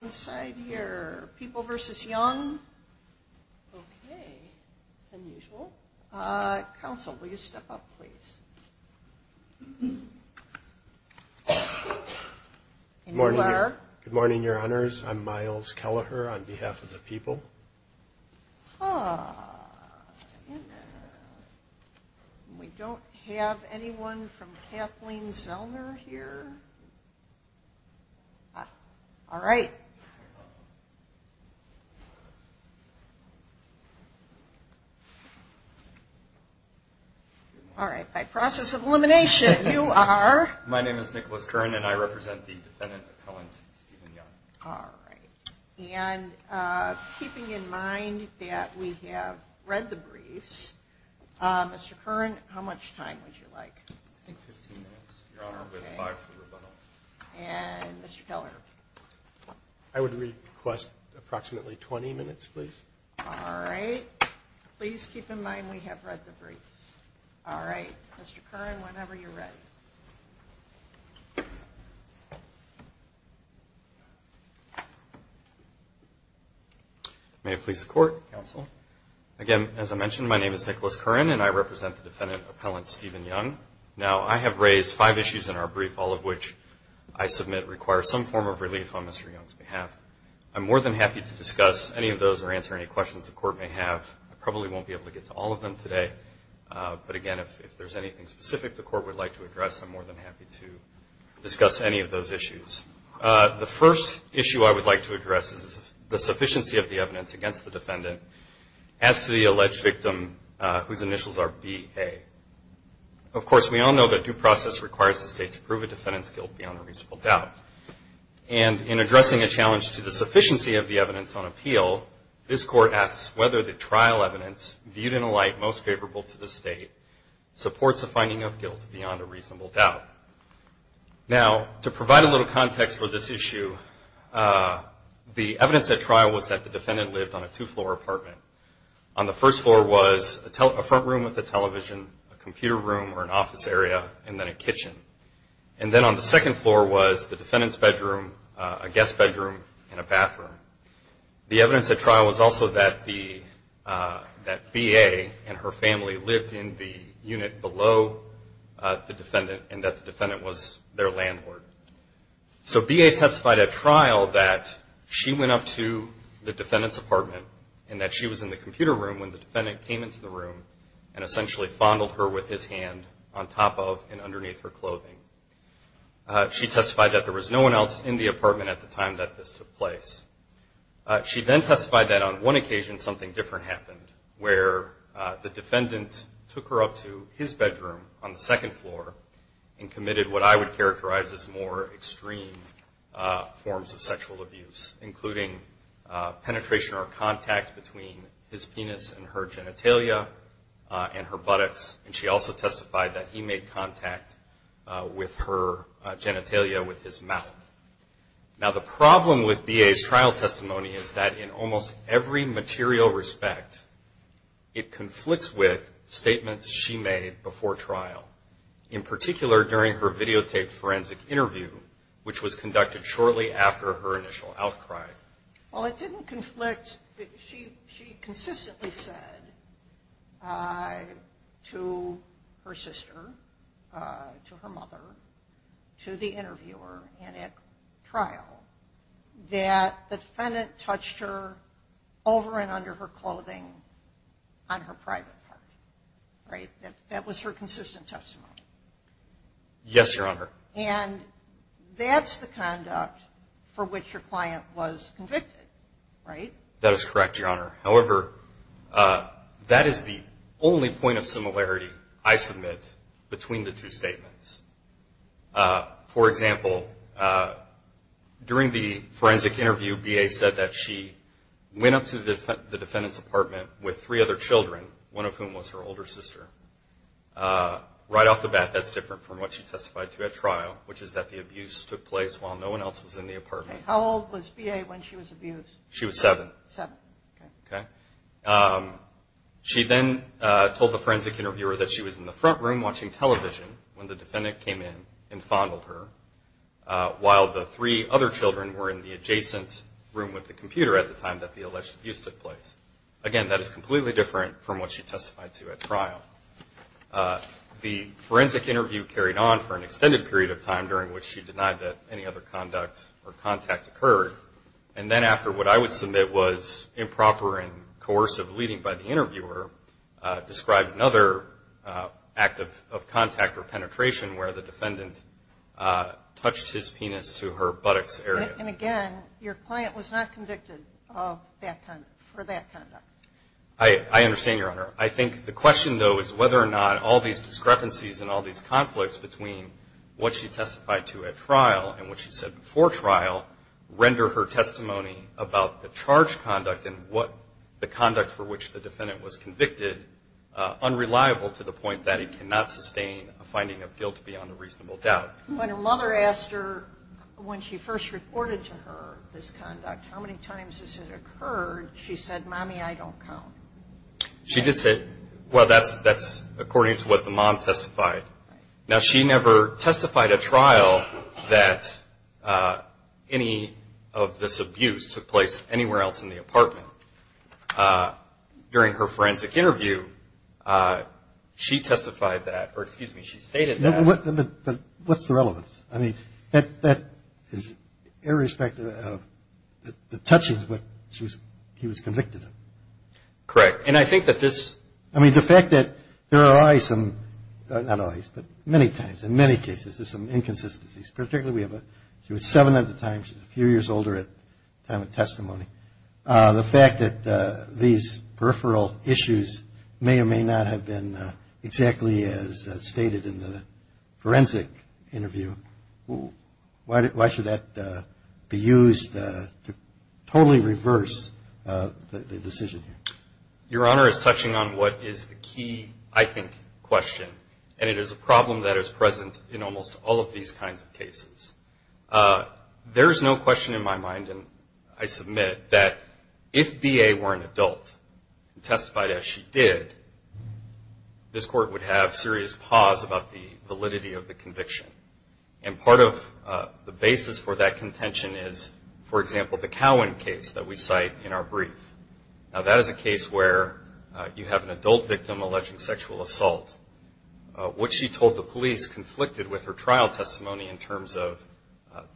Okay. It's unusual. Council, will you step up, please? Good morning, Your Honors. I'm Miles Kelleher on behalf of the people. We don't have anyone from Kathleen Zellner here. All right. All right. By process of elimination, you are? My name is Nicholas Curran, and I represent the defendant appellant, Steven Young. All right. And keeping in mind that we have read the briefs, Mr. Curran, how much time would you like? I think 15 minutes, Your Honor, with five for rebuttal. And Mr. Kelleher? I would request approximately 20 minutes, please. All right. Please keep in mind we have read the briefs. All right. Mr. Curran, whenever you're ready. May it please the Court, Counsel? Again, as I mentioned, my name is Nicholas Curran, and I represent the defendant appellant, Steven Young. Now, I have raised five issues in our brief, all of which I submit require some form of relief on Mr. Young's behalf. I'm more than happy to discuss any of those or answer any questions the Court may have. I probably won't be able to get to all of them today. But again, if there's anything specific the Court would like to address, I'm more than happy to discuss any of those issues. The first issue I would like to address is the sufficiency of the evidence against the defendant as to the alleged victim whose initials are B, A. Of course, we all know that due process requires the State to prove a defendant's guilt beyond a reasonable doubt. And in addressing a challenge to the sufficiency of the evidence on appeal, this Court asks whether the trial evidence, viewed in a light most favorable to the State, supports a finding of guilt beyond a reasonable doubt. Now, to provide a little context for this issue, the evidence at trial was that the defendant lived on a two-floor apartment. On the first floor was a front room with a television, a computer room or an office area, and then a kitchen. And then on the second floor was the defendant's bedroom, a guest bedroom, and a bathroom. The evidence at trial was also that B, A. and her family lived in the unit below the defendant and that the defendant was their landlord. So B, A. testified at trial that she went up to the defendant's apartment and that she was in the computer room when the defendant came into the room and essentially fondled her with his hand on top of and underneath her clothing. She testified that there was no one else in the apartment at the time that this took place. She then testified that on one occasion something different happened, where the defendant took her up to his bedroom on the second floor and committed what I would characterize as more extreme forms of sexual abuse, including penetration or contact between his penis and her genitalia and her buttocks. And she also testified that he made contact with her genitalia with his mouth. Now, the problem with B, A.'s trial testimony is that in almost every material respect, it conflicts with statements she made before trial, in particular during her videotaped forensic interview, which was conducted shortly after her initial outcry. Well, it didn't conflict. She consistently said to her sister, to her mother, to the interviewer, and at trial, that the defendant touched her over and under her clothing on her private part. Right? That was her consistent testimony. Yes, Your Honor. And that's the conduct for which your client was convicted. Right? That is correct, Your Honor. However, that is the only point of similarity I submit between the two statements. For example, during the forensic interview, B, A. said that she went up to the defendant's apartment with three other children, one of whom was her older sister. Right off the bat, that's different from what she testified to at trial, which is that the abuse took place while no one else was in the apartment. Okay. How old was B, A. when she was abused? She was seven. Seven. Okay. Okay. She then told the forensic interviewer that she was in the front room watching television when the defendant came in and fondled her, while the three other children were in the adjacent room with the computer at the time that the alleged abuse took place. Again, that is completely different from what she testified to at trial. The forensic interview carried on for an extended period of time, during which she denied that any other conduct or contact occurred. And then after what I would submit was improper and coercive leading by the interviewer, described another act of contact or penetration where the defendant touched his penis to her buttocks area. And again, your client was not convicted for that conduct. I understand, Your Honor. I think the question, though, is whether or not all these discrepancies and all these conflicts between what she testified to at trial and what she said before trial render her testimony about the charged conduct and the conduct for which the defendant was convicted unreliable to the point that it cannot sustain a finding of guilt beyond a reasonable doubt. When her mother asked her when she first reported to her this conduct, how many times has it occurred, she said, Mommy, I don't count. She did say, well, that's according to what the mom testified. Now, she never testified at trial that any of this abuse took place anywhere else in the apartment. During her forensic interview, she testified that or, excuse me, she stated that. But what's the relevance? I mean, that is irrespective of the touching of what she was convicted of. Correct. And I think that this – I mean, the fact that there are always some – not always, but many times, in many cases, there's some inconsistencies. Particularly, we have a – she was seven at the time. She was a few years older at the time of testimony. The fact that these peripheral issues may or may not have been exactly as stated in the forensic interview, why should that be used to totally reverse the decision here? Your Honor is touching on what is the key, I think, question. And it is a problem that is present in almost all of these kinds of cases. There is no question in my mind, and I submit, that if B.A. were an adult and testified as she did, this Court would have serious pause about the validity of the conviction. And part of the basis for that contention is, for example, the Cowan case that we cite in our brief. Now, that is a case where you have an adult victim alleging sexual assault. What she told the police conflicted with her trial testimony in terms of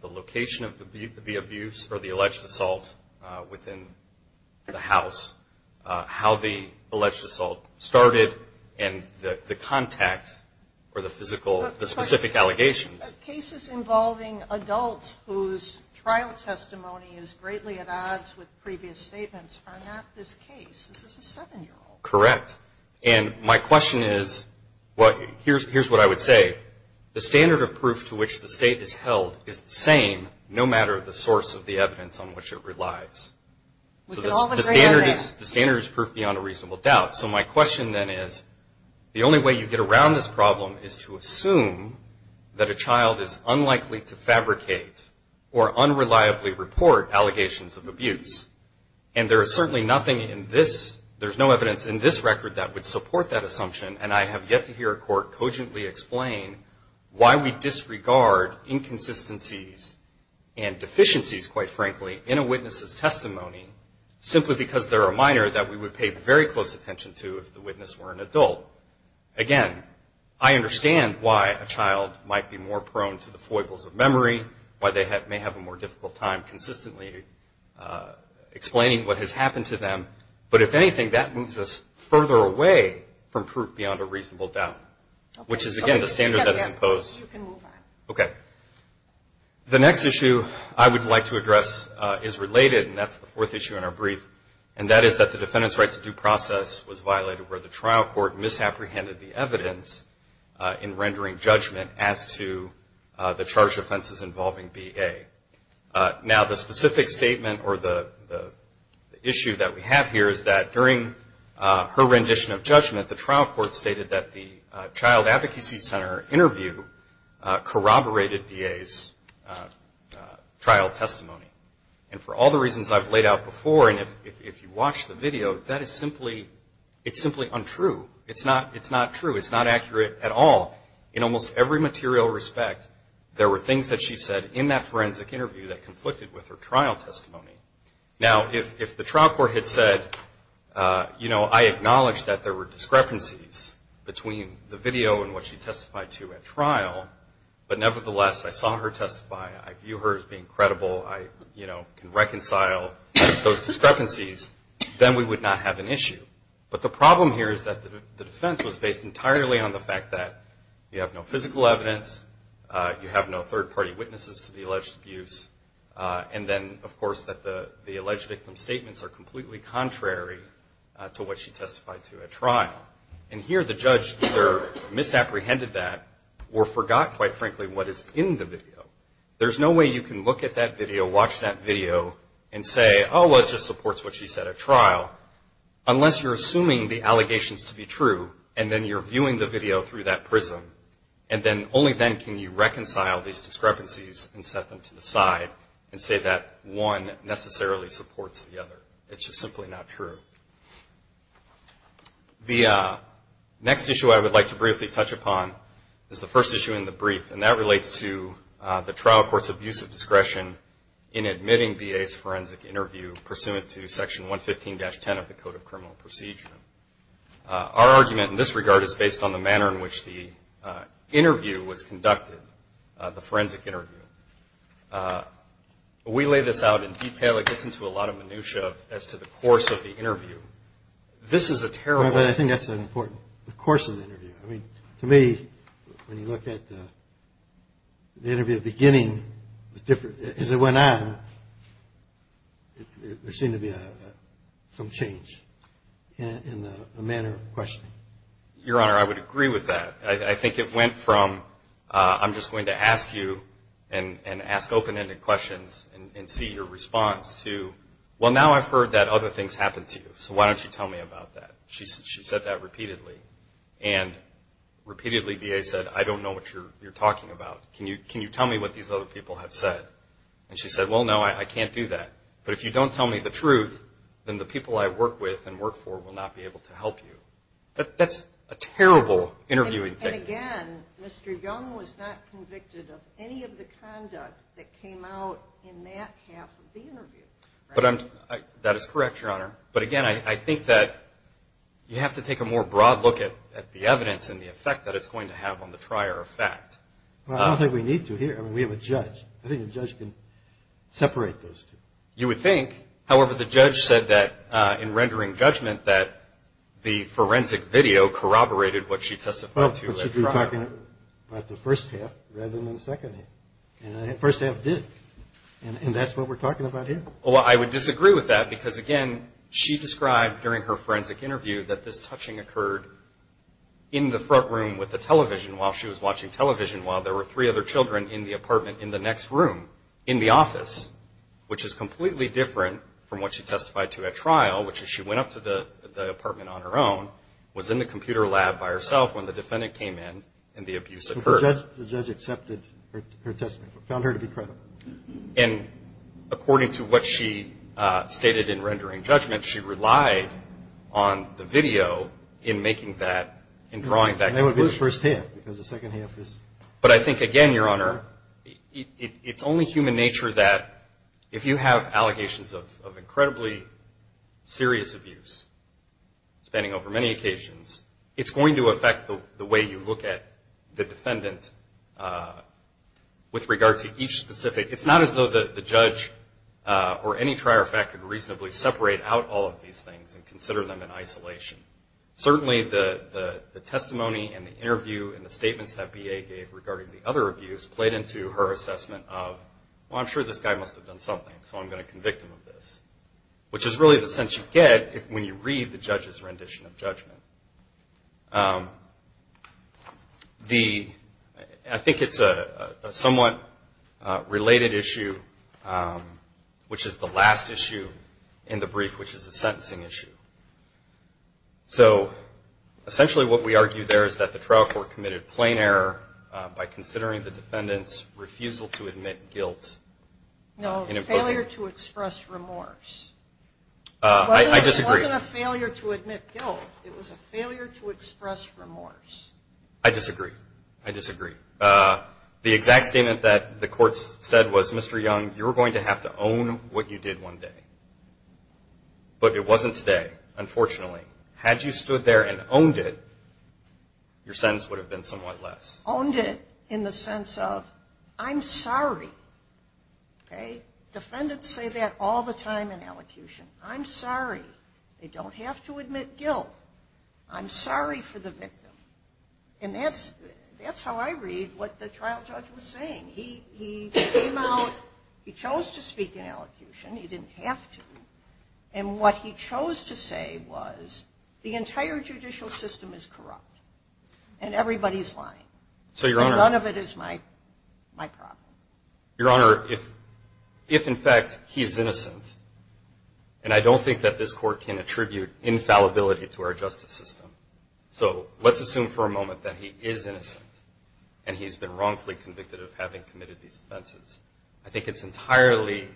the location of the abuse or the alleged assault within the house, how the alleged assault started, and the contact or the physical – the specific allegations. But cases involving adults whose trial testimony is greatly at odds with previous statements are not this case. This is a seven-year-old. Correct. And my question is, well, here's what I would say. The standard of proof to which the State is held is the same no matter the source of the evidence on which it relies. We can all agree on that. So the standard is proof beyond a reasonable doubt. So my question then is, the only way you get around this problem is to assume that a child is unlikely to fabricate or unreliably report allegations of abuse. And there is certainly nothing in this – there's no evidence in this record that would support that assumption. And I have yet to hear a court cogently explain why we disregard inconsistencies and deficiencies, quite frankly, in a witness's testimony simply because they're a minor that we would pay very close attention to if the witness were an adult. Again, I understand why a child might be more prone to the foibles of memory, why they may have a more difficult time consistently explaining what has happened to them. But if anything, that moves us further away from proof beyond a reasonable doubt, which is, again, the standard that is imposed. Okay. The next issue I would like to address is related, and that's the fourth issue in our brief, and that is that the defendant's right to due process was violated where the trial court misapprehended the evidence in rendering judgment as to the charged offenses involving B.A. Now, the specific statement or the issue that we have here is that during her rendition of judgment, the trial court stated that the child advocacy center interview corroborated B.A.'s trial testimony. And for all the reasons I've laid out before, and if you watch the video, that is simply – it's simply untrue. It's not true. It's not accurate at all. In almost every material respect, there were things that she said in that forensic interview that conflicted with her trial testimony. Now, if the trial court had said, you know, I acknowledge that there were discrepancies between the video and what she testified to at trial, but nevertheless I saw her testify, I view her as being credible, I, you know, can reconcile those discrepancies, then we would not have an issue. But the problem here is that the defense was based entirely on the fact that you have no physical evidence, you have no third-party witnesses to the alleged abuse, and then, of course, that the alleged victim's statements are completely contrary to what she testified to at trial. And here the judge either misapprehended that or forgot, quite frankly, what is in the video. There's no way you can look at that video, watch that video, and say, oh, well, it just supports what she said at trial, unless you're assuming the allegations to be true, and then you're viewing the video through that prism, and then only then can you reconcile these discrepancies and set them to the side and say that one necessarily supports the other. It's just simply not true. The next issue I would like to briefly touch upon is the first issue in the brief, and that relates to the trial court's abuse of discretion in admitting B.A.'s forensic interview, pursuant to Section 115-10 of the Code of Criminal Procedure. Our argument in this regard is based on the manner in which the interview was conducted, the forensic interview. We lay this out in detail. It gets into a lot of minutia as to the course of the interview. This is a terrible- The interview at the beginning was different. As it went on, there seemed to be some change in the manner of questioning. Your Honor, I would agree with that. I think it went from, I'm just going to ask you and ask open-ended questions and see your response to, well, now I've heard that other things happened to you, so why don't you tell me about that? She said that repeatedly. And repeatedly, B.A. said, I don't know what you're talking about. Can you tell me what these other people have said? And she said, well, no, I can't do that. But if you don't tell me the truth, then the people I work with and work for will not be able to help you. That's a terrible interviewing thing. And again, Mr. Young was not convicted of any of the conduct that came out in that half of the interview. That is correct, Your Honor. But, again, I think that you have to take a more broad look at the evidence and the effect that it's going to have on the trier of fact. Well, I don't think we need to here. I mean, we have a judge. I think a judge can separate those two. You would think. However, the judge said that in rendering judgment that the forensic video corroborated what she testified to. Well, but you're talking about the first half rather than the second half. And the first half did. And that's what we're talking about here. Well, I would disagree with that because, again, she described during her forensic interview that this touching occurred in the front room with the television while she was watching television while there were three other children in the apartment in the next room in the office, which is completely different from what she testified to at trial, which is she went up to the apartment on her own, was in the computer lab by herself when the defendant came in, and the abuse occurred. The judge accepted her testimony, found her to be credible. And according to what she stated in rendering judgment, she relied on the video in making that, in drawing that conclusion. And that would be the first half because the second half is. But I think, again, Your Honor, it's only human nature that if you have allegations of incredibly serious abuse spanning over many occasions, it's going to affect the way you look at the defendant with regard to each specific. It's not as though the judge or any trier of fact could reasonably separate out all of these things and consider them in isolation. Certainly the testimony and the interview and the statements that B.A. gave regarding the other abuse played into her assessment of, well, I'm sure this guy must have done something, so I'm going to convict him of this, which is really the sense you get when you read the judge's rendition of judgment. I think it's a somewhat related issue, which is the last issue in the brief, which is the sentencing issue. So essentially what we argue there is that the trial court committed plain error by considering the defendant's refusal to admit guilt. No, failure to express remorse. It wasn't a failure to admit guilt. It was a failure to express remorse. I disagree. I disagree. The exact statement that the court said was, Mr. Young, you're going to have to own what you did one day. But it wasn't today, unfortunately. Had you stood there and owned it, your sentence would have been somewhat less. Owned it in the sense of, I'm sorry. Defendants say that all the time in allocution. I'm sorry. They don't have to admit guilt. I'm sorry for the victim. And that's how I read what the trial judge was saying. He came out, he chose to speak in allocution. He didn't have to. And what he chose to say was, the entire judicial system is corrupt. And everybody's lying. And none of it is my problem. Your Honor, if in fact he is innocent, and I don't think that this court can attribute infallibility to our justice system. So let's assume for a moment that he is innocent. And he's been wrongfully convicted of having committed these offenses. I think it's entirely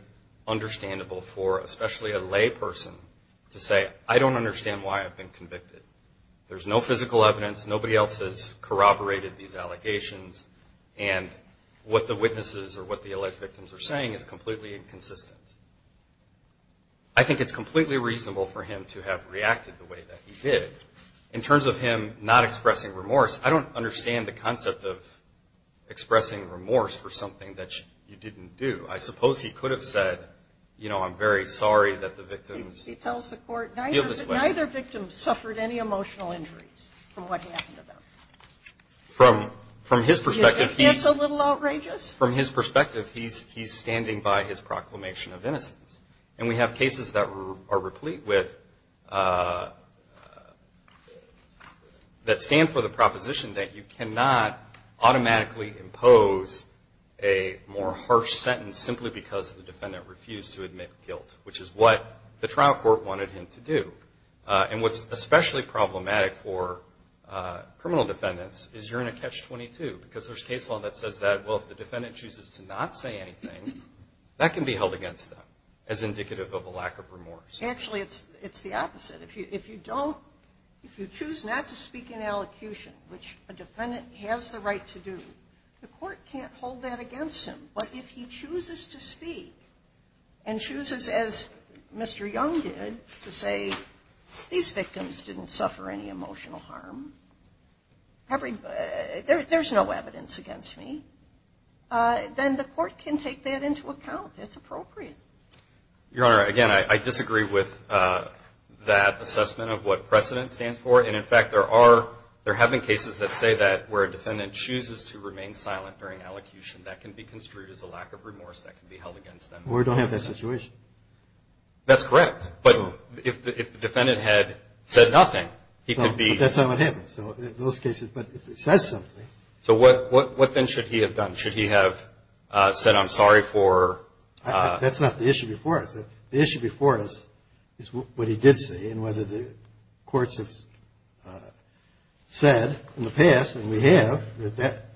understandable for especially a lay person to say, I don't understand why I've been convicted. There's no physical evidence. Nobody else has corroborated these allegations. And what the witnesses or what the alleged victims are saying is completely inconsistent. I think it's completely reasonable for him to have reacted the way that he did. In terms of him not expressing remorse, I don't understand the concept of expressing remorse for something that you didn't do. I suppose he could have said, you know, I'm very sorry that the victims feel this way. He tells the court neither victim suffered any emotional injuries from what happened to them. From his perspective, he's standing by his proclamation of innocence. And we have cases that are replete with that stand for the proposition that you cannot automatically impose a more harsh sentence simply because the defendant refused to admit guilt, which is what the trial court wanted him to do. And what's especially problematic for criminal defendants is you're in a catch-22, because there's case law that says that, well, if the defendant chooses to not say anything, that can be held against them as indicative of a lack of remorse. Actually, it's the opposite. If you don't – if you choose not to speak in allocution, which a defendant has the right to do, the court can't hold that against him. But if he chooses to speak and chooses, as Mr. Young did, to say these victims didn't suffer any emotional harm, there's no evidence against me, then the court can take that into account. It's appropriate. Your Honor, again, I disagree with that assessment of what precedent stands for. And, in fact, there are – there have been cases that say that where a defendant chooses to remain silent during allocution, that can be construed as a lack of remorse that can be held against them. We don't have that situation. That's correct. But if the defendant had said nothing, he could be – That's not what happens in those cases. But if he says something – So what then should he have done? Should he have said, I'm sorry for – That's not the issue before us. The issue before us is what he did say and whether the courts have said in the past, and we have, that that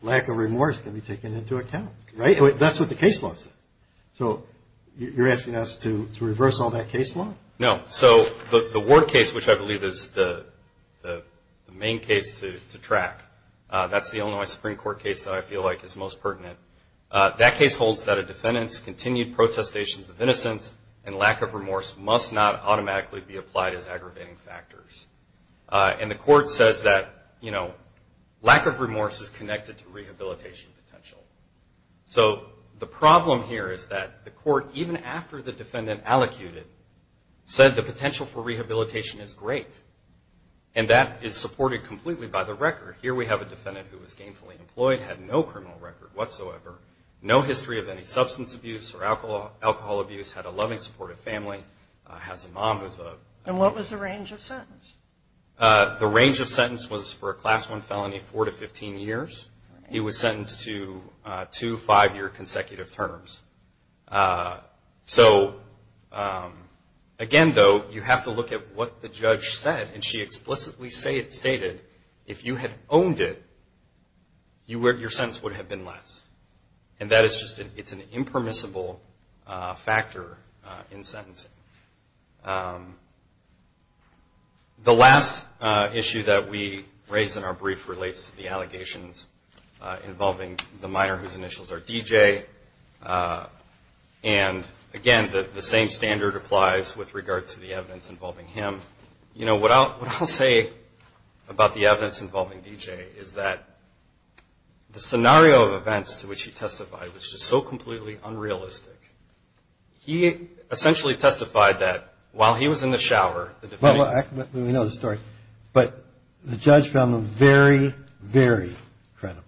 lack of remorse can be taken into account. Right? That's what the case law says. So you're asking us to reverse all that case law? No. So the Ward case, which I believe is the main case to track, that's the Illinois Supreme Court case that I feel like is most pertinent, that case holds that a defendant's continued protestations of innocence and lack of remorse must not automatically be applied as aggravating factors. And the court says that, you know, lack of remorse is connected to rehabilitation potential. So the problem here is that the court, even after the defendant allocuted, said the potential for rehabilitation is great, and that is supported completely by the record. Here we have a defendant who was gainfully employed, had no criminal record whatsoever, no history of any substance abuse or alcohol abuse, had a loving, supportive family, has a mom who's a – And what was the range of sentence? The range of sentence was for a Class I felony, four to 15 years. He was sentenced to two five-year consecutive terms. So, again, though, you have to look at what the judge said, and she explicitly stated if you had owned it, your sentence would have been less. And that is just an – it's an impermissible factor in sentencing. The last issue that we raise in our brief relates to the allegations involving the minor whose initials are D.J. And, again, the same standard applies with regard to the evidence involving him. You know, what I'll say about the evidence involving D.J. is that the scenario of events to which he testified was just so completely unrealistic. He essentially testified that while he was in the shower, the defendant – Well, we know the story, but the judge found them very, very credible.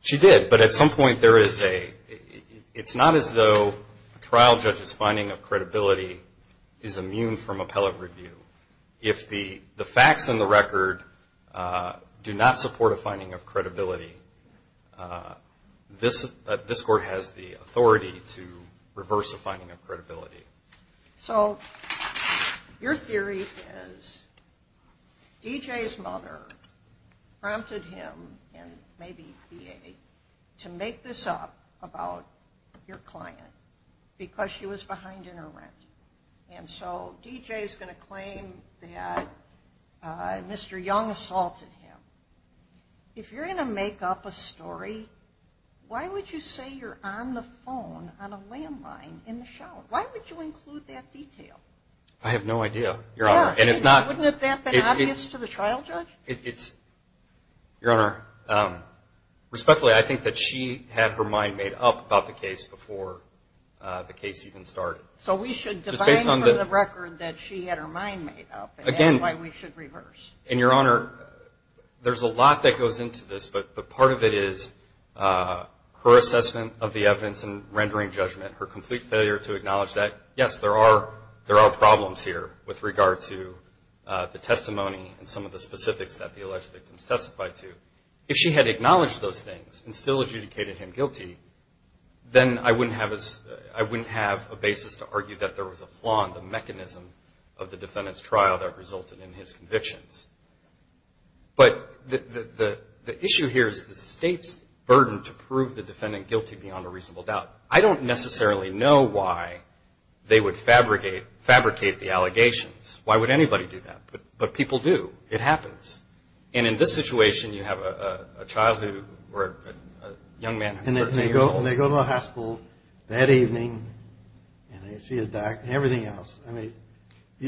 She did, but at some point there is a – it's not as though a trial judge's finding of credibility is immune from appellate review. If the facts and the record do not support a finding of credibility, this court has the authority to reverse a finding of credibility. So, your theory is D.J.'s mother prompted him, and maybe B.A., to make this up about your client because she was behind in her rent. And so D.J. is going to claim that Mr. Young assaulted him. If you're going to make up a story, why would you say you're on the phone on a landline in the shower? Why would you include that detail? I have no idea, Your Honor, and it's not – Wouldn't that have been obvious to the trial judge? It's – Your Honor, respectfully, I think that she had her mind made up about the case before the case even started. So we should define for the record that she had her mind made up, and that's why we should reverse. And, Your Honor, there's a lot that goes into this, but part of it is her assessment of the evidence and rendering judgment, her complete failure to acknowledge that, yes, there are problems here with regard to the testimony and some of the specifics that the alleged victims testified to. If she had acknowledged those things and still adjudicated him guilty, then I wouldn't have a basis to argue that there was a flaw in the mechanism of the defendant's trial that resulted in his convictions. But the issue here is the State's burden to prove the defendant guilty beyond a reasonable doubt. I don't necessarily know why they would fabricate the allegations. Why would anybody do that? But people do. It happens. And in this situation, you have a child who – or a young man who's 13 years old. And they go to the hospital that evening, and they see a doc and everything else. I mean –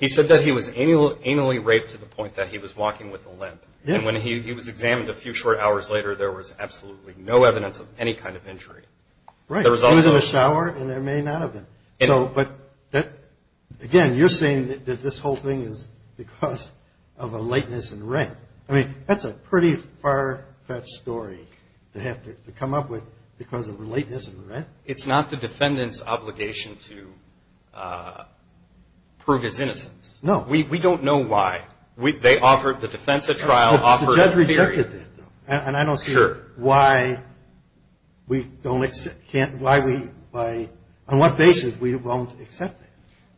He said that he was anally raped to the point that he was walking with a limp. And when he was examined a few short hours later, there was absolutely no evidence of any kind of injury. Right. He was in the shower, and there may not have been. But, again, you're saying that this whole thing is because of a lateness in rank. I mean, that's a pretty far-fetched story to have to come up with because of lateness in rank. It's not the defendant's obligation to prove his innocence. No. We don't know why. They offered the defense a trial. The judge rejected that, though. And I don't see why we don't – why we – on what basis we won't accept that.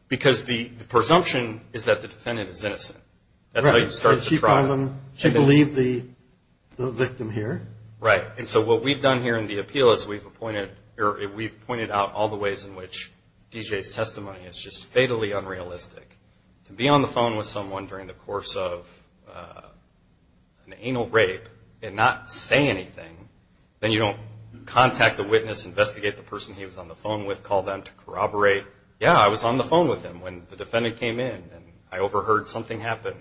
Because the presumption is that the defendant is innocent. That's how you start the trial. Right. And she found them – she believed the victim here. Right. And so what we've done here in the appeal is we've appointed – or we've pointed out all the ways in which D.J.'s testimony is just fatally unrealistic. To be on the phone with someone during the course of an anal rape and not say anything, then you don't contact the witness, investigate the person he was on the phone with, call them to corroborate, yeah, I was on the phone with him when the defendant came in and I overheard something happen.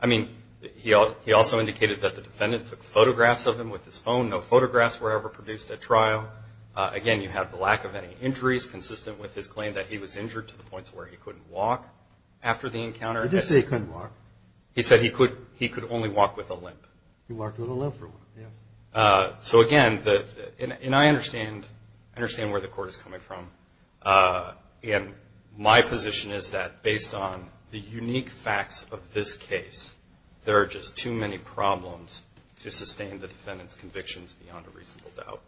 I mean, he also indicated that the defendant took photographs of him with his phone. No photographs were ever produced at trial. Again, you have the lack of any injuries consistent with his claim that he was injured to the point to where he couldn't walk after the encounter. He did say he couldn't walk. He said he could only walk with a limp. He walked with a limp. So, again, and I understand where the court is coming from. And my position is that based on the unique facts of this case, there are just too many problems to sustain the defendant's convictions beyond a reasonable doubt.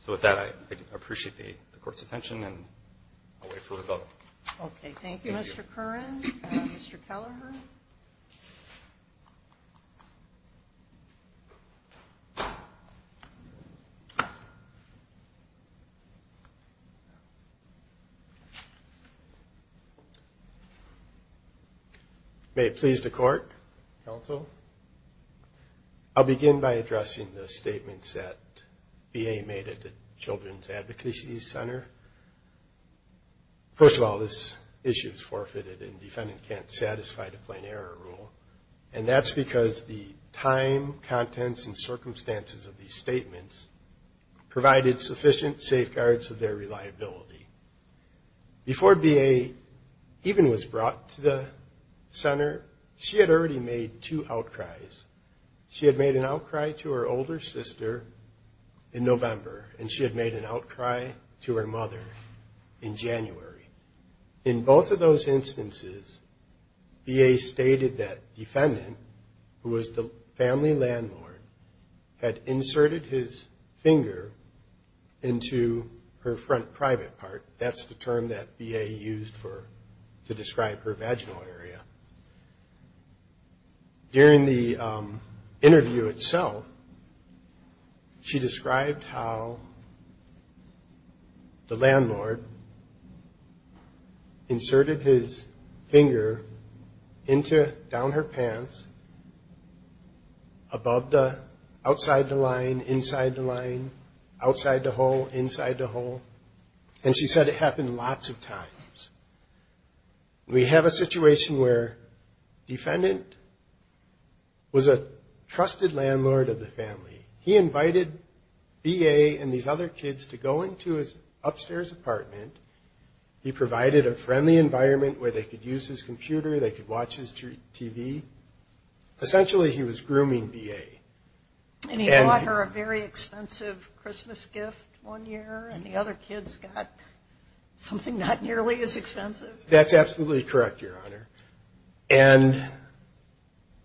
So with that, I appreciate the Court's attention and I'll wait for the vote. Okay, thank you, Mr. Curran. Mr. Kelleher. May it please the Court, Counsel. I'll begin by addressing the statements that VA made at the Children's Advocacy Center. First of all, this issue is forfeited and the defendant can't satisfy the plain error rule. And that's because the time, contents, and circumstances of these statements provided sufficient safeguards of their reliability. Before VA even was brought to the Center, she had already made two outcries. She had made an outcry to her older sister in November and she had made an outcry to her mother in January. In both of those instances, VA stated that the defendant, who was the family landlord, had inserted his finger into her front private part. That's the term that VA used to describe her vaginal area. During the interview itself, she described how the landlord inserted his finger into, down her pants, above the, outside the line, inside the line, outside the hole, inside the hole. And she said it happened lots of times. We have a situation where defendant was a trusted landlord of the family. He invited VA and these other kids to go into his upstairs apartment. He provided a friendly environment where they could use his computer, they could watch his TV. Essentially, he was grooming VA. And he bought her a very expensive Christmas gift one year and the other kids got something not nearly as expensive. That's absolutely correct, Your Honor. And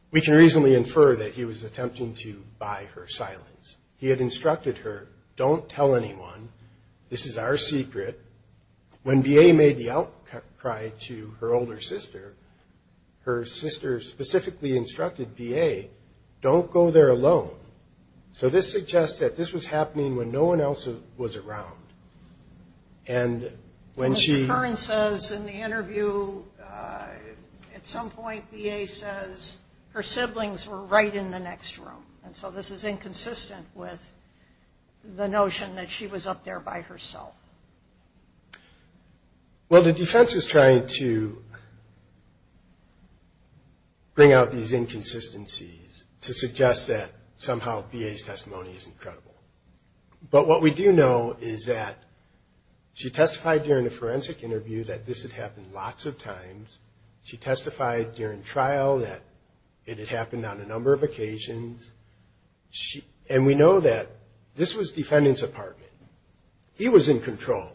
we can reasonably infer that he was attempting to buy her silence. He had instructed her, don't tell anyone, this is our secret. When VA made the outcry to her older sister, her sister specifically instructed VA, don't go there alone. So this suggests that this was happening when no one else was around. And when she... Ms. Curran says in the interview, at some point VA says her siblings were right in the next room. And so this is inconsistent with the notion that she was up there by herself. Well, the defense is trying to bring out these inconsistencies to suggest that somehow VA's testimony is incredible. But what we do know is that she testified during the forensic interview that this had happened lots of times. She testified during trial that it had happened on a number of occasions. And we know that this was defendant's apartment. He was in control.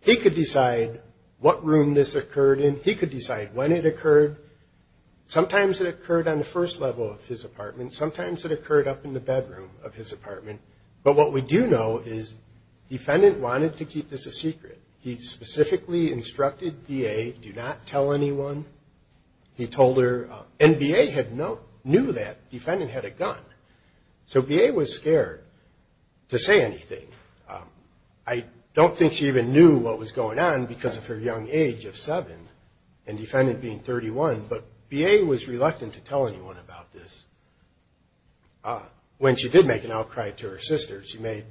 He could decide what room this occurred in. He could decide when it occurred. Sometimes it occurred on the first level of his apartment. Sometimes it occurred up in the bedroom of his apartment. But what we do know is defendant wanted to keep this a secret. He specifically instructed VA, do not tell anyone. He told her... And VA knew that defendant had a gun. So VA was scared to say anything. I don't think she even knew what was going on because of her young age of seven and defendant being 31. But VA was reluctant to tell anyone about this. When she did make an outcry to her sister, she made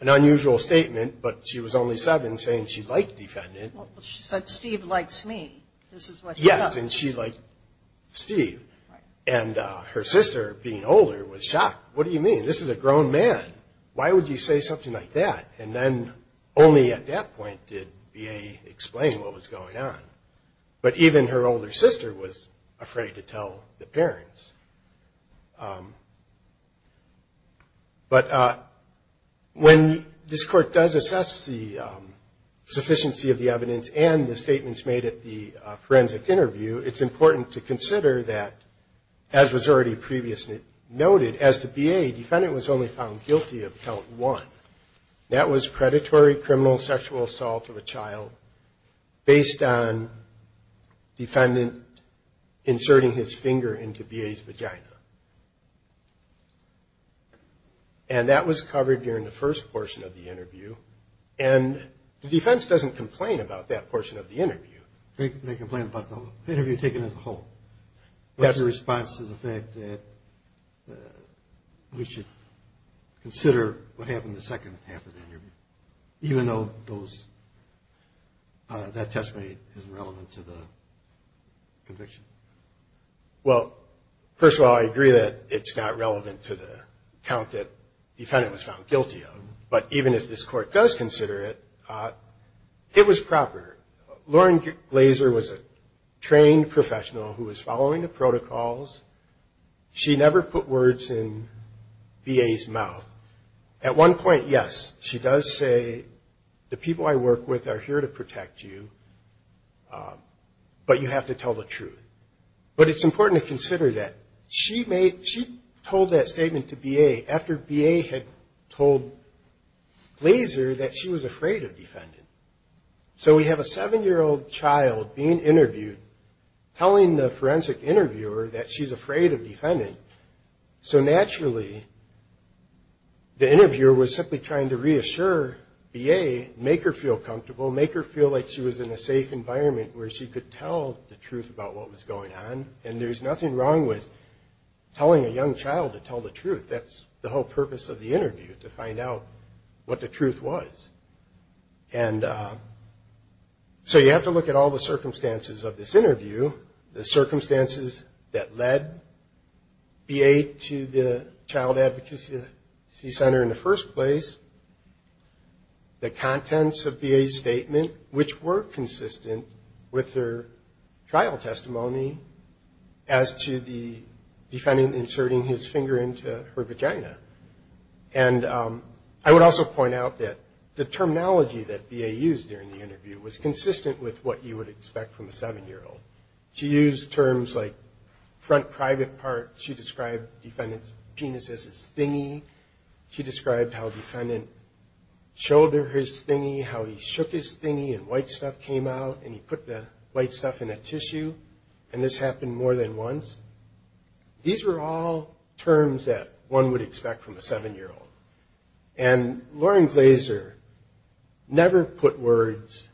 an unusual statement. But she was only seven, saying she liked defendant. Well, she said, Steve likes me. This is what she said. Yes, and she liked Steve. And her sister, being older, was shocked. What do you mean? This is a grown man. Why would you say something like that? And then only at that point did VA explain what was going on. But even her older sister was afraid to tell the parents. But when this court does assess the sufficiency of the evidence and the statements made at the forensic interview, it's important to consider that, as was already previously noted, as to VA, defendant was only found guilty of count one. That was predatory criminal sexual assault of a child based on defendant inserting his finger into VA's vagina. And that was covered during the first portion of the interview. And the defense doesn't complain about that portion of the interview. They complain about the interview taken as a whole. That's a response to the fact that we should consider what happened the second half of the interview, even though that testimony isn't relevant to the conviction. Well, first of all, I agree that it's not relevant to the count that defendant was found guilty of. But even if this court does consider it, it was proper. Lauren Glazer was a trained professional who was following the protocols. She never put words in VA's mouth. At one point, yes, she does say, the people I work with are here to protect you, but you have to tell the truth. But it's important to consider that she told that statement to VA after VA had told Glazer that she was afraid of defendant. So we have a seven-year-old child being interviewed telling the forensic interviewer that she's afraid of defendant. So naturally, the interviewer was simply trying to reassure VA, make her feel comfortable, make her feel like she was in a safe environment where she could tell the truth about what was going on. And there's nothing wrong with telling a young child to tell the truth. That's the whole purpose of the interview, to find out what the truth was. And so you have to look at all the circumstances of this interview, the circumstances that led VA to the Child Advocacy Center in the first place, the contents of VA's statement, which were consistent with her trial testimony as to the defendant inserting his finger into her vagina. And I would also point out that the terminology that VA used during the interview was consistent with what you would expect from a seven-year-old. She used terms like front private part, she described defendant's penis as his thingy, she described how defendant shouldered his thingy, how he shook his thingy, and white stuff came out, and he put the white stuff in a tissue, and this happened more than once. These were all terms that one would expect from a seven-year-old. And Lauren Glazer never put words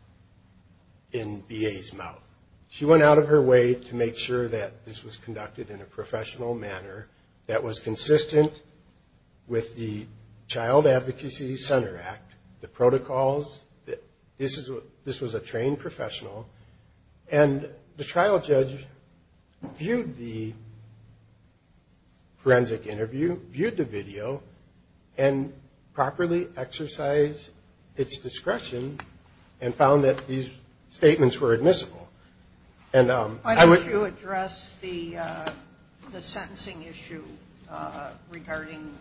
in VA's mouth. She went out of her way to make sure that this was conducted in a professional manner that was consistent with the Child Advocacy Center Act, the protocols. This was a trained professional. And the trial judge viewed the forensic interview, viewed the video, and properly exercised its discretion and found that these statements were admissible. And I would... Why don't you address the sentencing issue regarding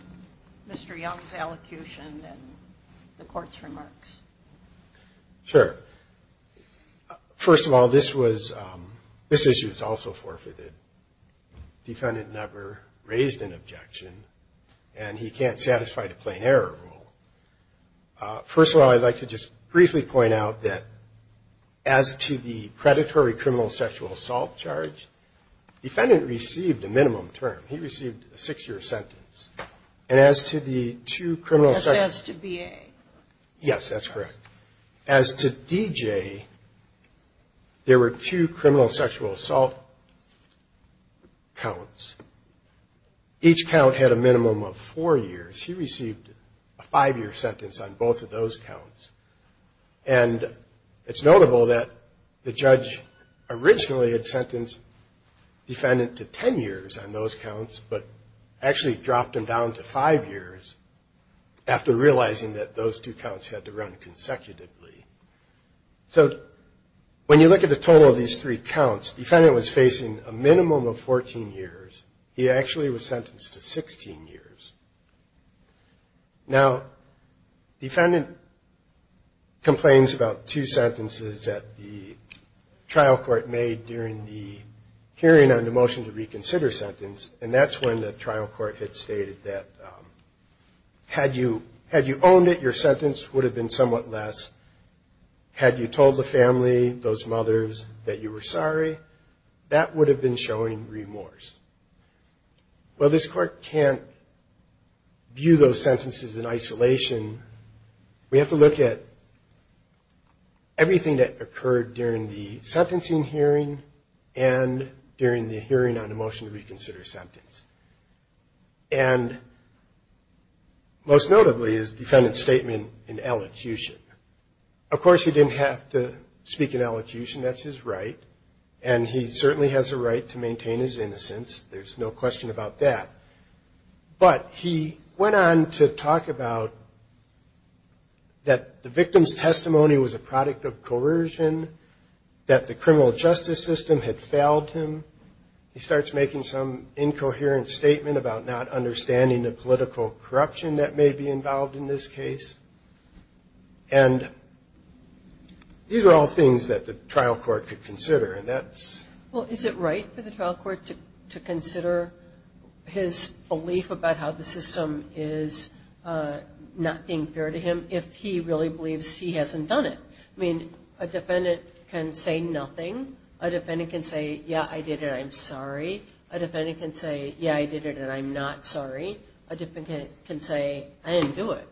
Mr. Young's allocution and the court's remarks? Sure. First of all, this was, this issue was also forfeited. Defendant never raised an objection, and he can't satisfy the plain error rule. First of all, I'd like to just briefly point out that as to the predatory criminal sexual assault charge, defendant received a minimum term. He received a six-year sentence. And as to the two criminal... Yes, that's correct. As to D.J., there were two criminal sexual assault counts. Each count had a minimum of four years. He received a five-year sentence on both of those counts. And it's notable that the judge originally had sentenced defendant to ten years on those counts, but actually dropped him down to five years after realizing that those two counts had to run consecutively. So when you look at the total of these three counts, defendant was facing a minimum of 14 years. He actually was sentenced to 16 years. Now, defendant complains about two sentences that the trial court made during the hearing on the motion to reconsider sentence, and that's when the trial court had stated that had you owned it, your sentence would have been somewhat less. Had you told the family, those mothers, that you were sorry, that would have been showing remorse. Well, this court can't view those sentences in isolation. We have to look at everything that occurred during the sentencing hearing and during the hearing on the motion to reconsider sentence. And most notably is defendant's statement in elocution. Of course, he didn't have to speak in elocution. There's no question about that. But he went on to talk about that the victim's testimony was a product of coercion, that the criminal justice system had failed him. He starts making some incoherent statement about not understanding the political corruption that may be involved in this case. And these are all things that the trial court could consider, and that's... Well, is it right for the trial court to consider his belief about how the system is not being fair to him if he really believes he hasn't done it? I mean, a defendant can say nothing, a defendant can say, yeah, I did it, I'm sorry. A defendant can say, yeah, I did it, and I'm not sorry. A defendant can say, I didn't do it,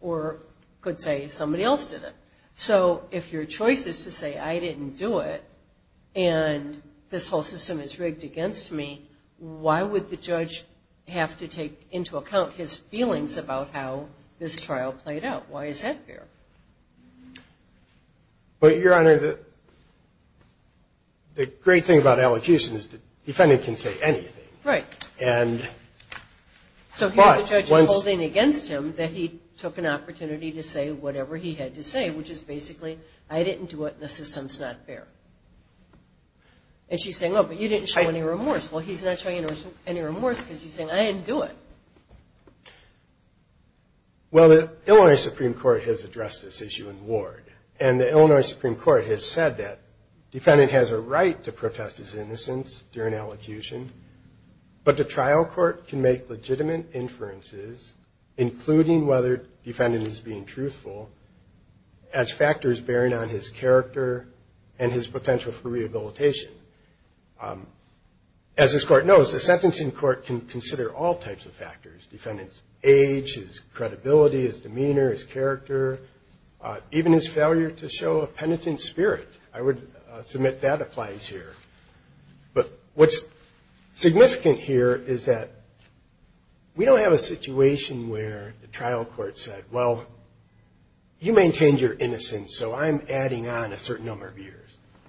or could say somebody else did it. So if your choice is to say, I didn't do it, and this whole system is rigged against me, why would the judge have to take into account his feelings about how this trial played out? Why is that fair? But, Your Honor, the great thing about elocution is the defendant can say anything. Right. So here the judge is holding against him that he took an opportunity to say whatever he had to say, which is basically, I didn't do it, and the system's not fair. And she's saying, oh, but you didn't show any remorse. Well, he's not showing any remorse because he's saying, I didn't do it. Well, the Illinois Supreme Court has addressed this issue in the ward. And the Illinois Supreme Court has said that defendant has a right to protest his innocence during elocution, but the trial court can make legitimate inferences, including whether defendant is being truthful, as factors bearing on his character and his potential for rehabilitation. As this court knows, the sentencing court can consider all types of factors, defendant's age, his credibility, his demeanor, his character, even his failure to show a penitent spirit. I would submit that applies here. But what's significant here is that we don't have a situation where the trial court said, well, you maintained your innocence, so I'm adding on a certain number of years.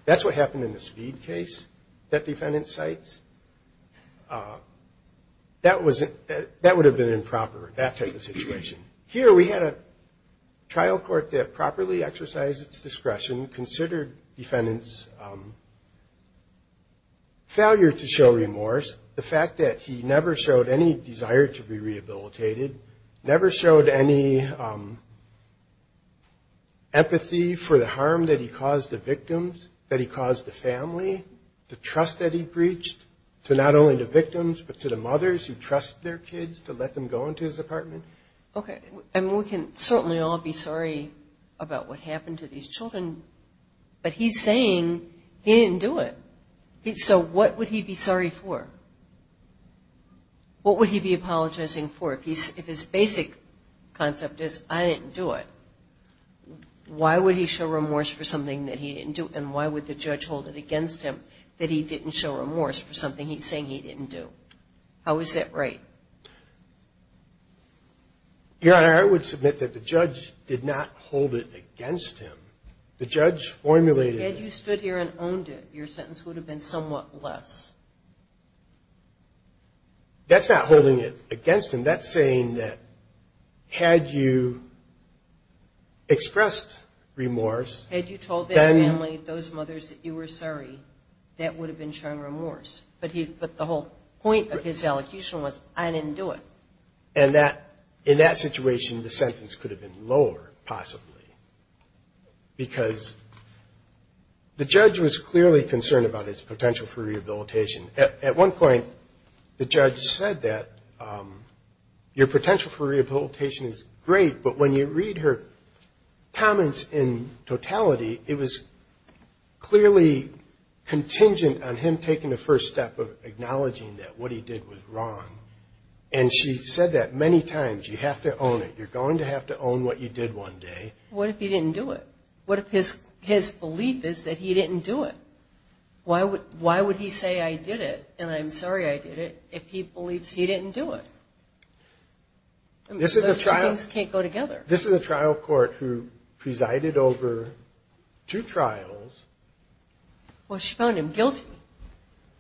That's what happened in the Speed case that defendant cites. That would have been improper, that type of situation. Here we had a trial court that properly exercised its discretion, considered defendant's failure to show remorse, the fact that he never showed any desire to be rehabilitated, never showed any empathy for the harm that he caused the victims, that he caused the family, the trust that he breached to not only the victims, but to the mothers who trust their kids to let them go into his apartment. Okay, and we can certainly all be sorry about what happened to these children, but he's saying he didn't do it. So what would he be sorry for? What would he be apologizing for? If his basic concept is, I didn't do it, why would he show remorse for something that he didn't do, and why would the judge hold it against him that he didn't show remorse for something he's saying he didn't do? How is that right? Your Honor, I would submit that the judge did not hold it against him. The judge formulated it. Had you stood here and owned it, your sentence would have been somewhat less. That's not holding it against him. That's saying that had you expressed remorse. Had you told that family, those mothers, that you were sorry, that would have been showing remorse. But the whole point of his elocution was, I didn't do it. In that situation, the sentence could have been lower, possibly, because the judge was clearly concerned about his potential for rehabilitation. At one point, the judge said that your potential for rehabilitation is great, but when you read her comments in totality, it was clearly contingent on him taking the first step of acknowledging that what he did was wrong. And she said that many times. You have to own it. You're going to have to own what you did one day. What if he didn't do it? What if his belief is that he didn't do it? Why would he say, I did it, and I'm sorry I did it, if he believes he didn't do it? Those two things can't go together. This is a trial court who presided over two trials. Well, she found him guilty.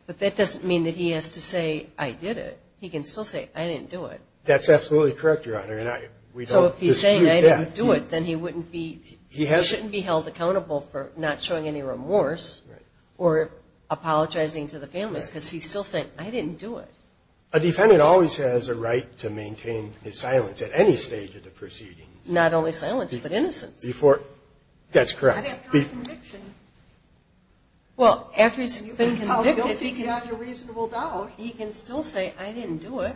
But that doesn't mean that he has to say, I did it. He can still say, I didn't do it. That's absolutely correct, Your Honor. And we don't dispute that. If he says, I didn't do it, then he shouldn't be held accountable for not showing any remorse or apologizing to the families, because he's still saying, I didn't do it. A defendant always has a right to maintain his silence at any stage of the proceedings. Not only silence, but innocence. That's correct. Well, after he's been convicted, he can still say, I didn't do it.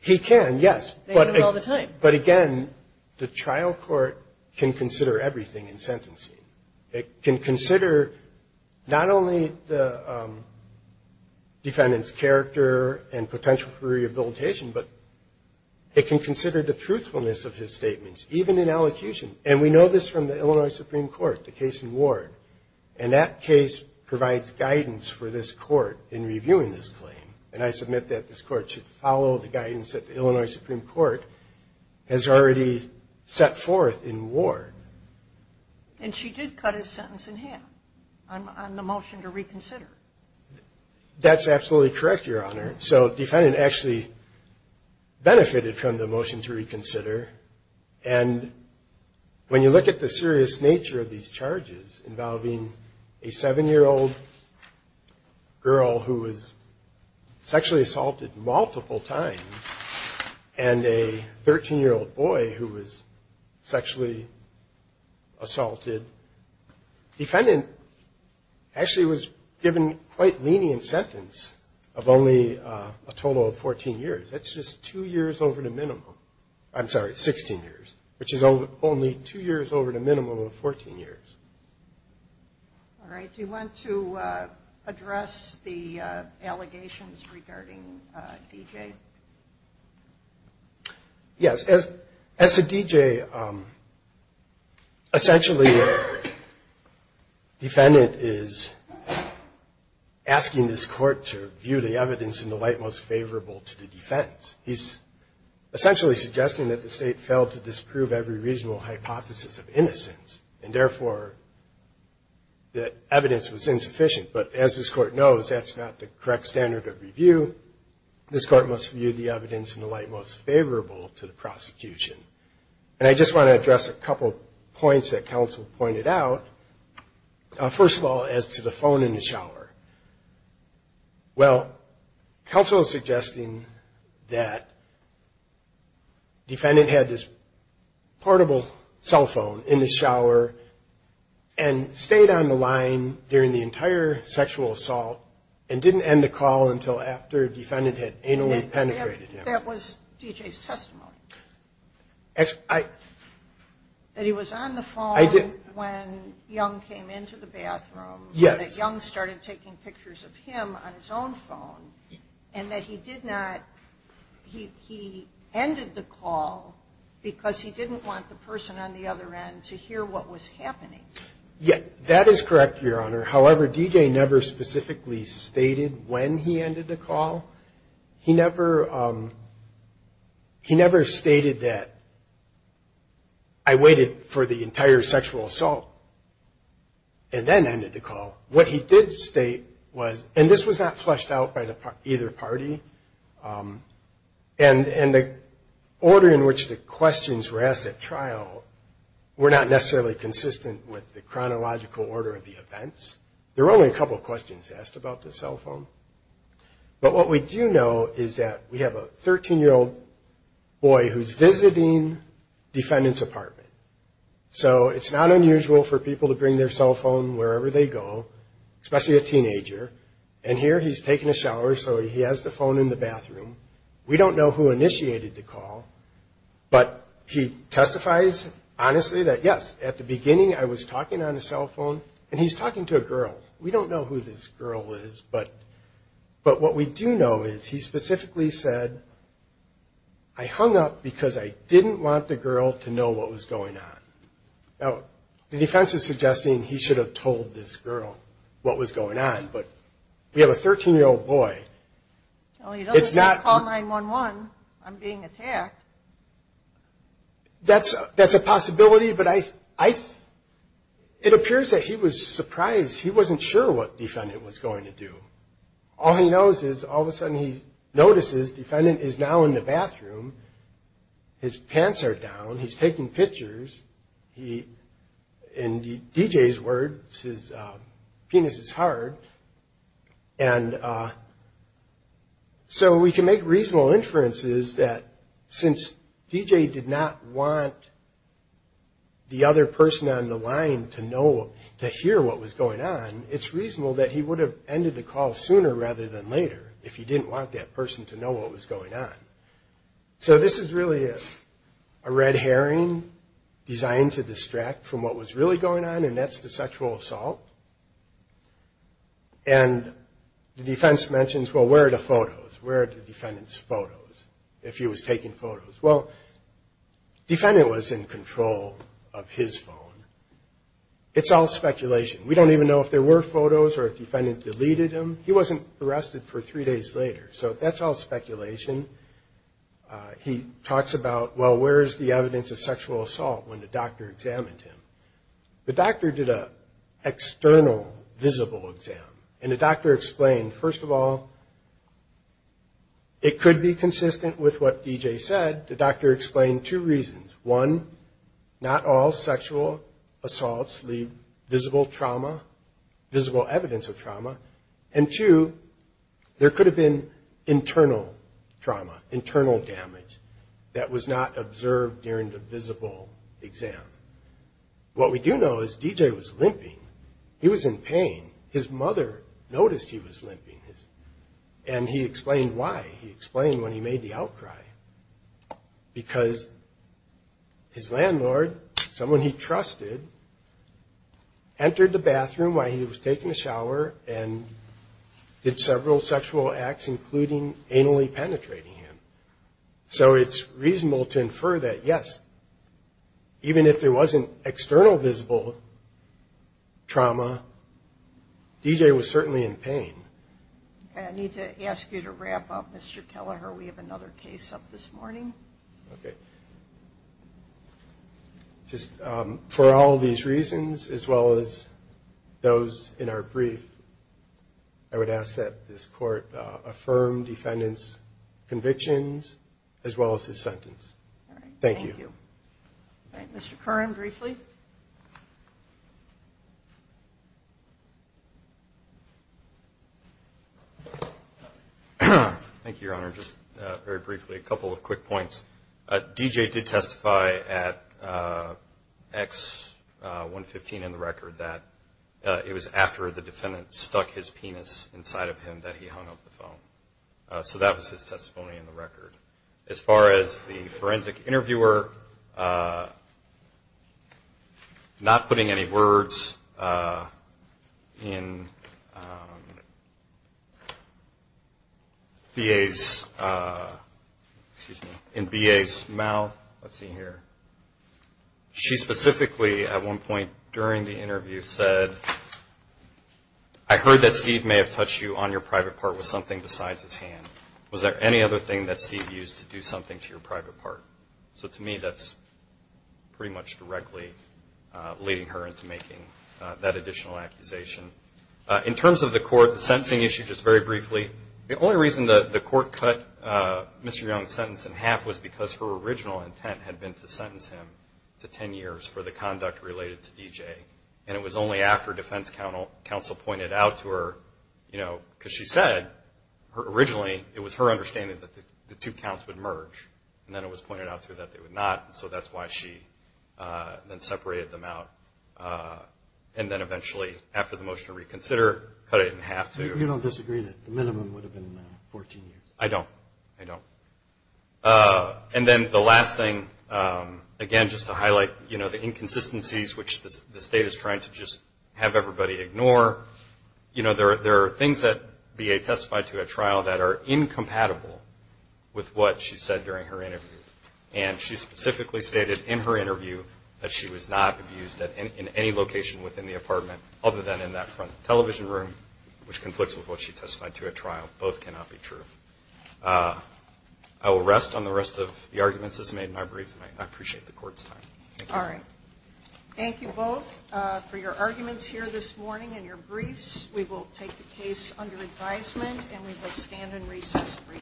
He can, yes. But again, the trial court can consider everything in sentencing. It can consider not only the defendant's character and potential for rehabilitation, but it can consider the truthfulness of his statements, even in elocution. And we know this from the Illinois Supreme Court, the case in Ward. And that case provides guidance for this court in reviewing this claim. And I submit that this court should follow the guidance that the Illinois Supreme Court has already set forth in Ward. And she did cut his sentence in half on the motion to reconsider. That's absolutely correct, Your Honor. And when you look at the serious nature of these charges involving a 7-year-old girl who was sexually assaulted multiple times, and a 13-year-old boy who was sexually assaulted, the defendant actually was given quite lenient sentence of only a total of 14 years. That's just two years over the minimum. I'm sorry, 16 years, which is only two years over the minimum of 14 years. All right. Do you want to address the allegations regarding D.J.? Yes. As to D.J., essentially the defendant is asking this court to view the evidence in the light most favorable to the defense. He's essentially suggesting that the state failed to disprove every reasonable hypothesis of innocence, and therefore the evidence was insufficient. But as this court knows, that's not the correct standard of review. This court must view the evidence in the light most favorable to the prosecution. And I just want to address a couple points that counsel pointed out. First of all, as to the phone in the shower. Well, counsel is suggesting that defendant had this portable cell phone in the shower and stayed on the line during the entire sexual assault and didn't end the call until after defendant had anally penetrated him. That was D.J.'s testimony. That he was on the phone when Young came into the bathroom, and that Young started taking pictures of him on his own phone, and that he ended the call because he didn't want the person on the other end to hear what was happening. Yes, that is correct, Your Honor. However, D.J. never specifically stated when he ended the call. He never stated that, I waited for the entire sexual assault and then ended the call. What he did state was, and this was not fleshed out by either party, and the order in which the questions were asked at trial were not necessarily consistent with the chronological order of the events. There were only a couple questions asked about the cell phone. But what we do know is that we have a 13-year-old boy who's visiting defendant's apartment. So it's not unusual for people to bring their cell phone wherever they go, especially a teenager, and here he's taking a shower, so he has the phone in the bathroom. We don't know who initiated the call, but he testifies honestly that, yes, at the beginning I was talking on the cell phone, and he's talking to a girl. We don't know who this girl is, but what we do know is he specifically said, I hung up because I didn't want the girl to know what was going on. Now, the defense is suggesting he should have told this girl what was going on, but we have a 13-year-old boy. That's a possibility, but it appears that he was surprised. He wasn't sure what defendant was going to do. All he knows is all of a sudden he notices defendant is now in the bathroom. His pants are down. He's taking pictures. In D.J.'s words, his penis is hard. So we can make reasonable inferences that since D.J. did not want the other person on the line to hear what was going on, it's reasonable that he would have ended the call sooner rather than later if he didn't want that person to know what was going on. So this is really a red herring designed to distract from what was really going on, and that's the sexual assault. And the defense mentions, well, where are the photos? Where are the defendant's photos, if he was taking photos? Well, defendant was in control of his phone. It's all speculation. We don't even know if there were photos or if defendant deleted them. He wasn't arrested for three days later, so that's all speculation. He talks about, well, where is the evidence of sexual assault when the doctor examined him? The doctor did an external visible exam, and the doctor explained, first of all, it could be consistent with what D.J. said. The doctor explained two reasons. One, not all sexual assaults leave visible trauma, visible evidence of trauma, and two, there could have been internal trauma, internal damage that was not observed during the visible exam. What we do know is D.J. was limping. He was in pain. His mother noticed he was limping, and he explained why. He explained when he made the outcry, because his landlord, someone he trusted, entered the bathroom while he was taking a shower and did several sexual acts, including anally penetrating him. So it's reasonable to infer that, yes, even if there wasn't external visible trauma, D.J. was certainly in pain. I need to ask you to wrap up, Mr. Kelleher. We have another case up this morning. For all these reasons, as well as those in our brief, I would ask that this Court affirm defendant's convictions, as well as his sentence. Thank you. Thank you, Your Honor. Just very briefly, a couple of quick points. D.J. did testify at X-115 in the record that it was after the defendant stuck his penis inside of him that he hung up the phone. So that was his testimony in the record. As far as the forensic interviewer not putting any words in B.A.'s mouth, let's see here, she specifically at one point during the interview said, I heard that Steve may have touched you on your private part with something besides his hand. Was there any other thing that Steve used to do something to your private part? So to me, that's pretty much directly leading her into making that additional accusation. In terms of the court, the sentencing issue, just very briefly, the only reason the court cut Mr. Young's sentence in half was because her original intent had been to sentence him to 10 years for the conduct related to D.J. And it was only after defense counsel pointed out to her, you know, because she said originally it was her understanding that the two counts would merge. And then it was pointed out to her that they would not. And so that's why she then separated them out. And then eventually, after the motion to reconsider, cut it in half, too. You don't disagree that the minimum would have been 14 years? I don't, I don't. And then the last thing, again, just to highlight, you know, the inconsistencies which the State is trying to just have everybody ignore. You know, there are things that B.A. testified to at trial that are incompatible with what she said during her interview. And she specifically stated in her interview that she was not abused in any location within the apartment other than in that front television room, which conflicts with what she testified to at trial. Both cannot be true. I will rest on the rest of the arguments that's made in my brief, and I appreciate the Court's time. Thank you.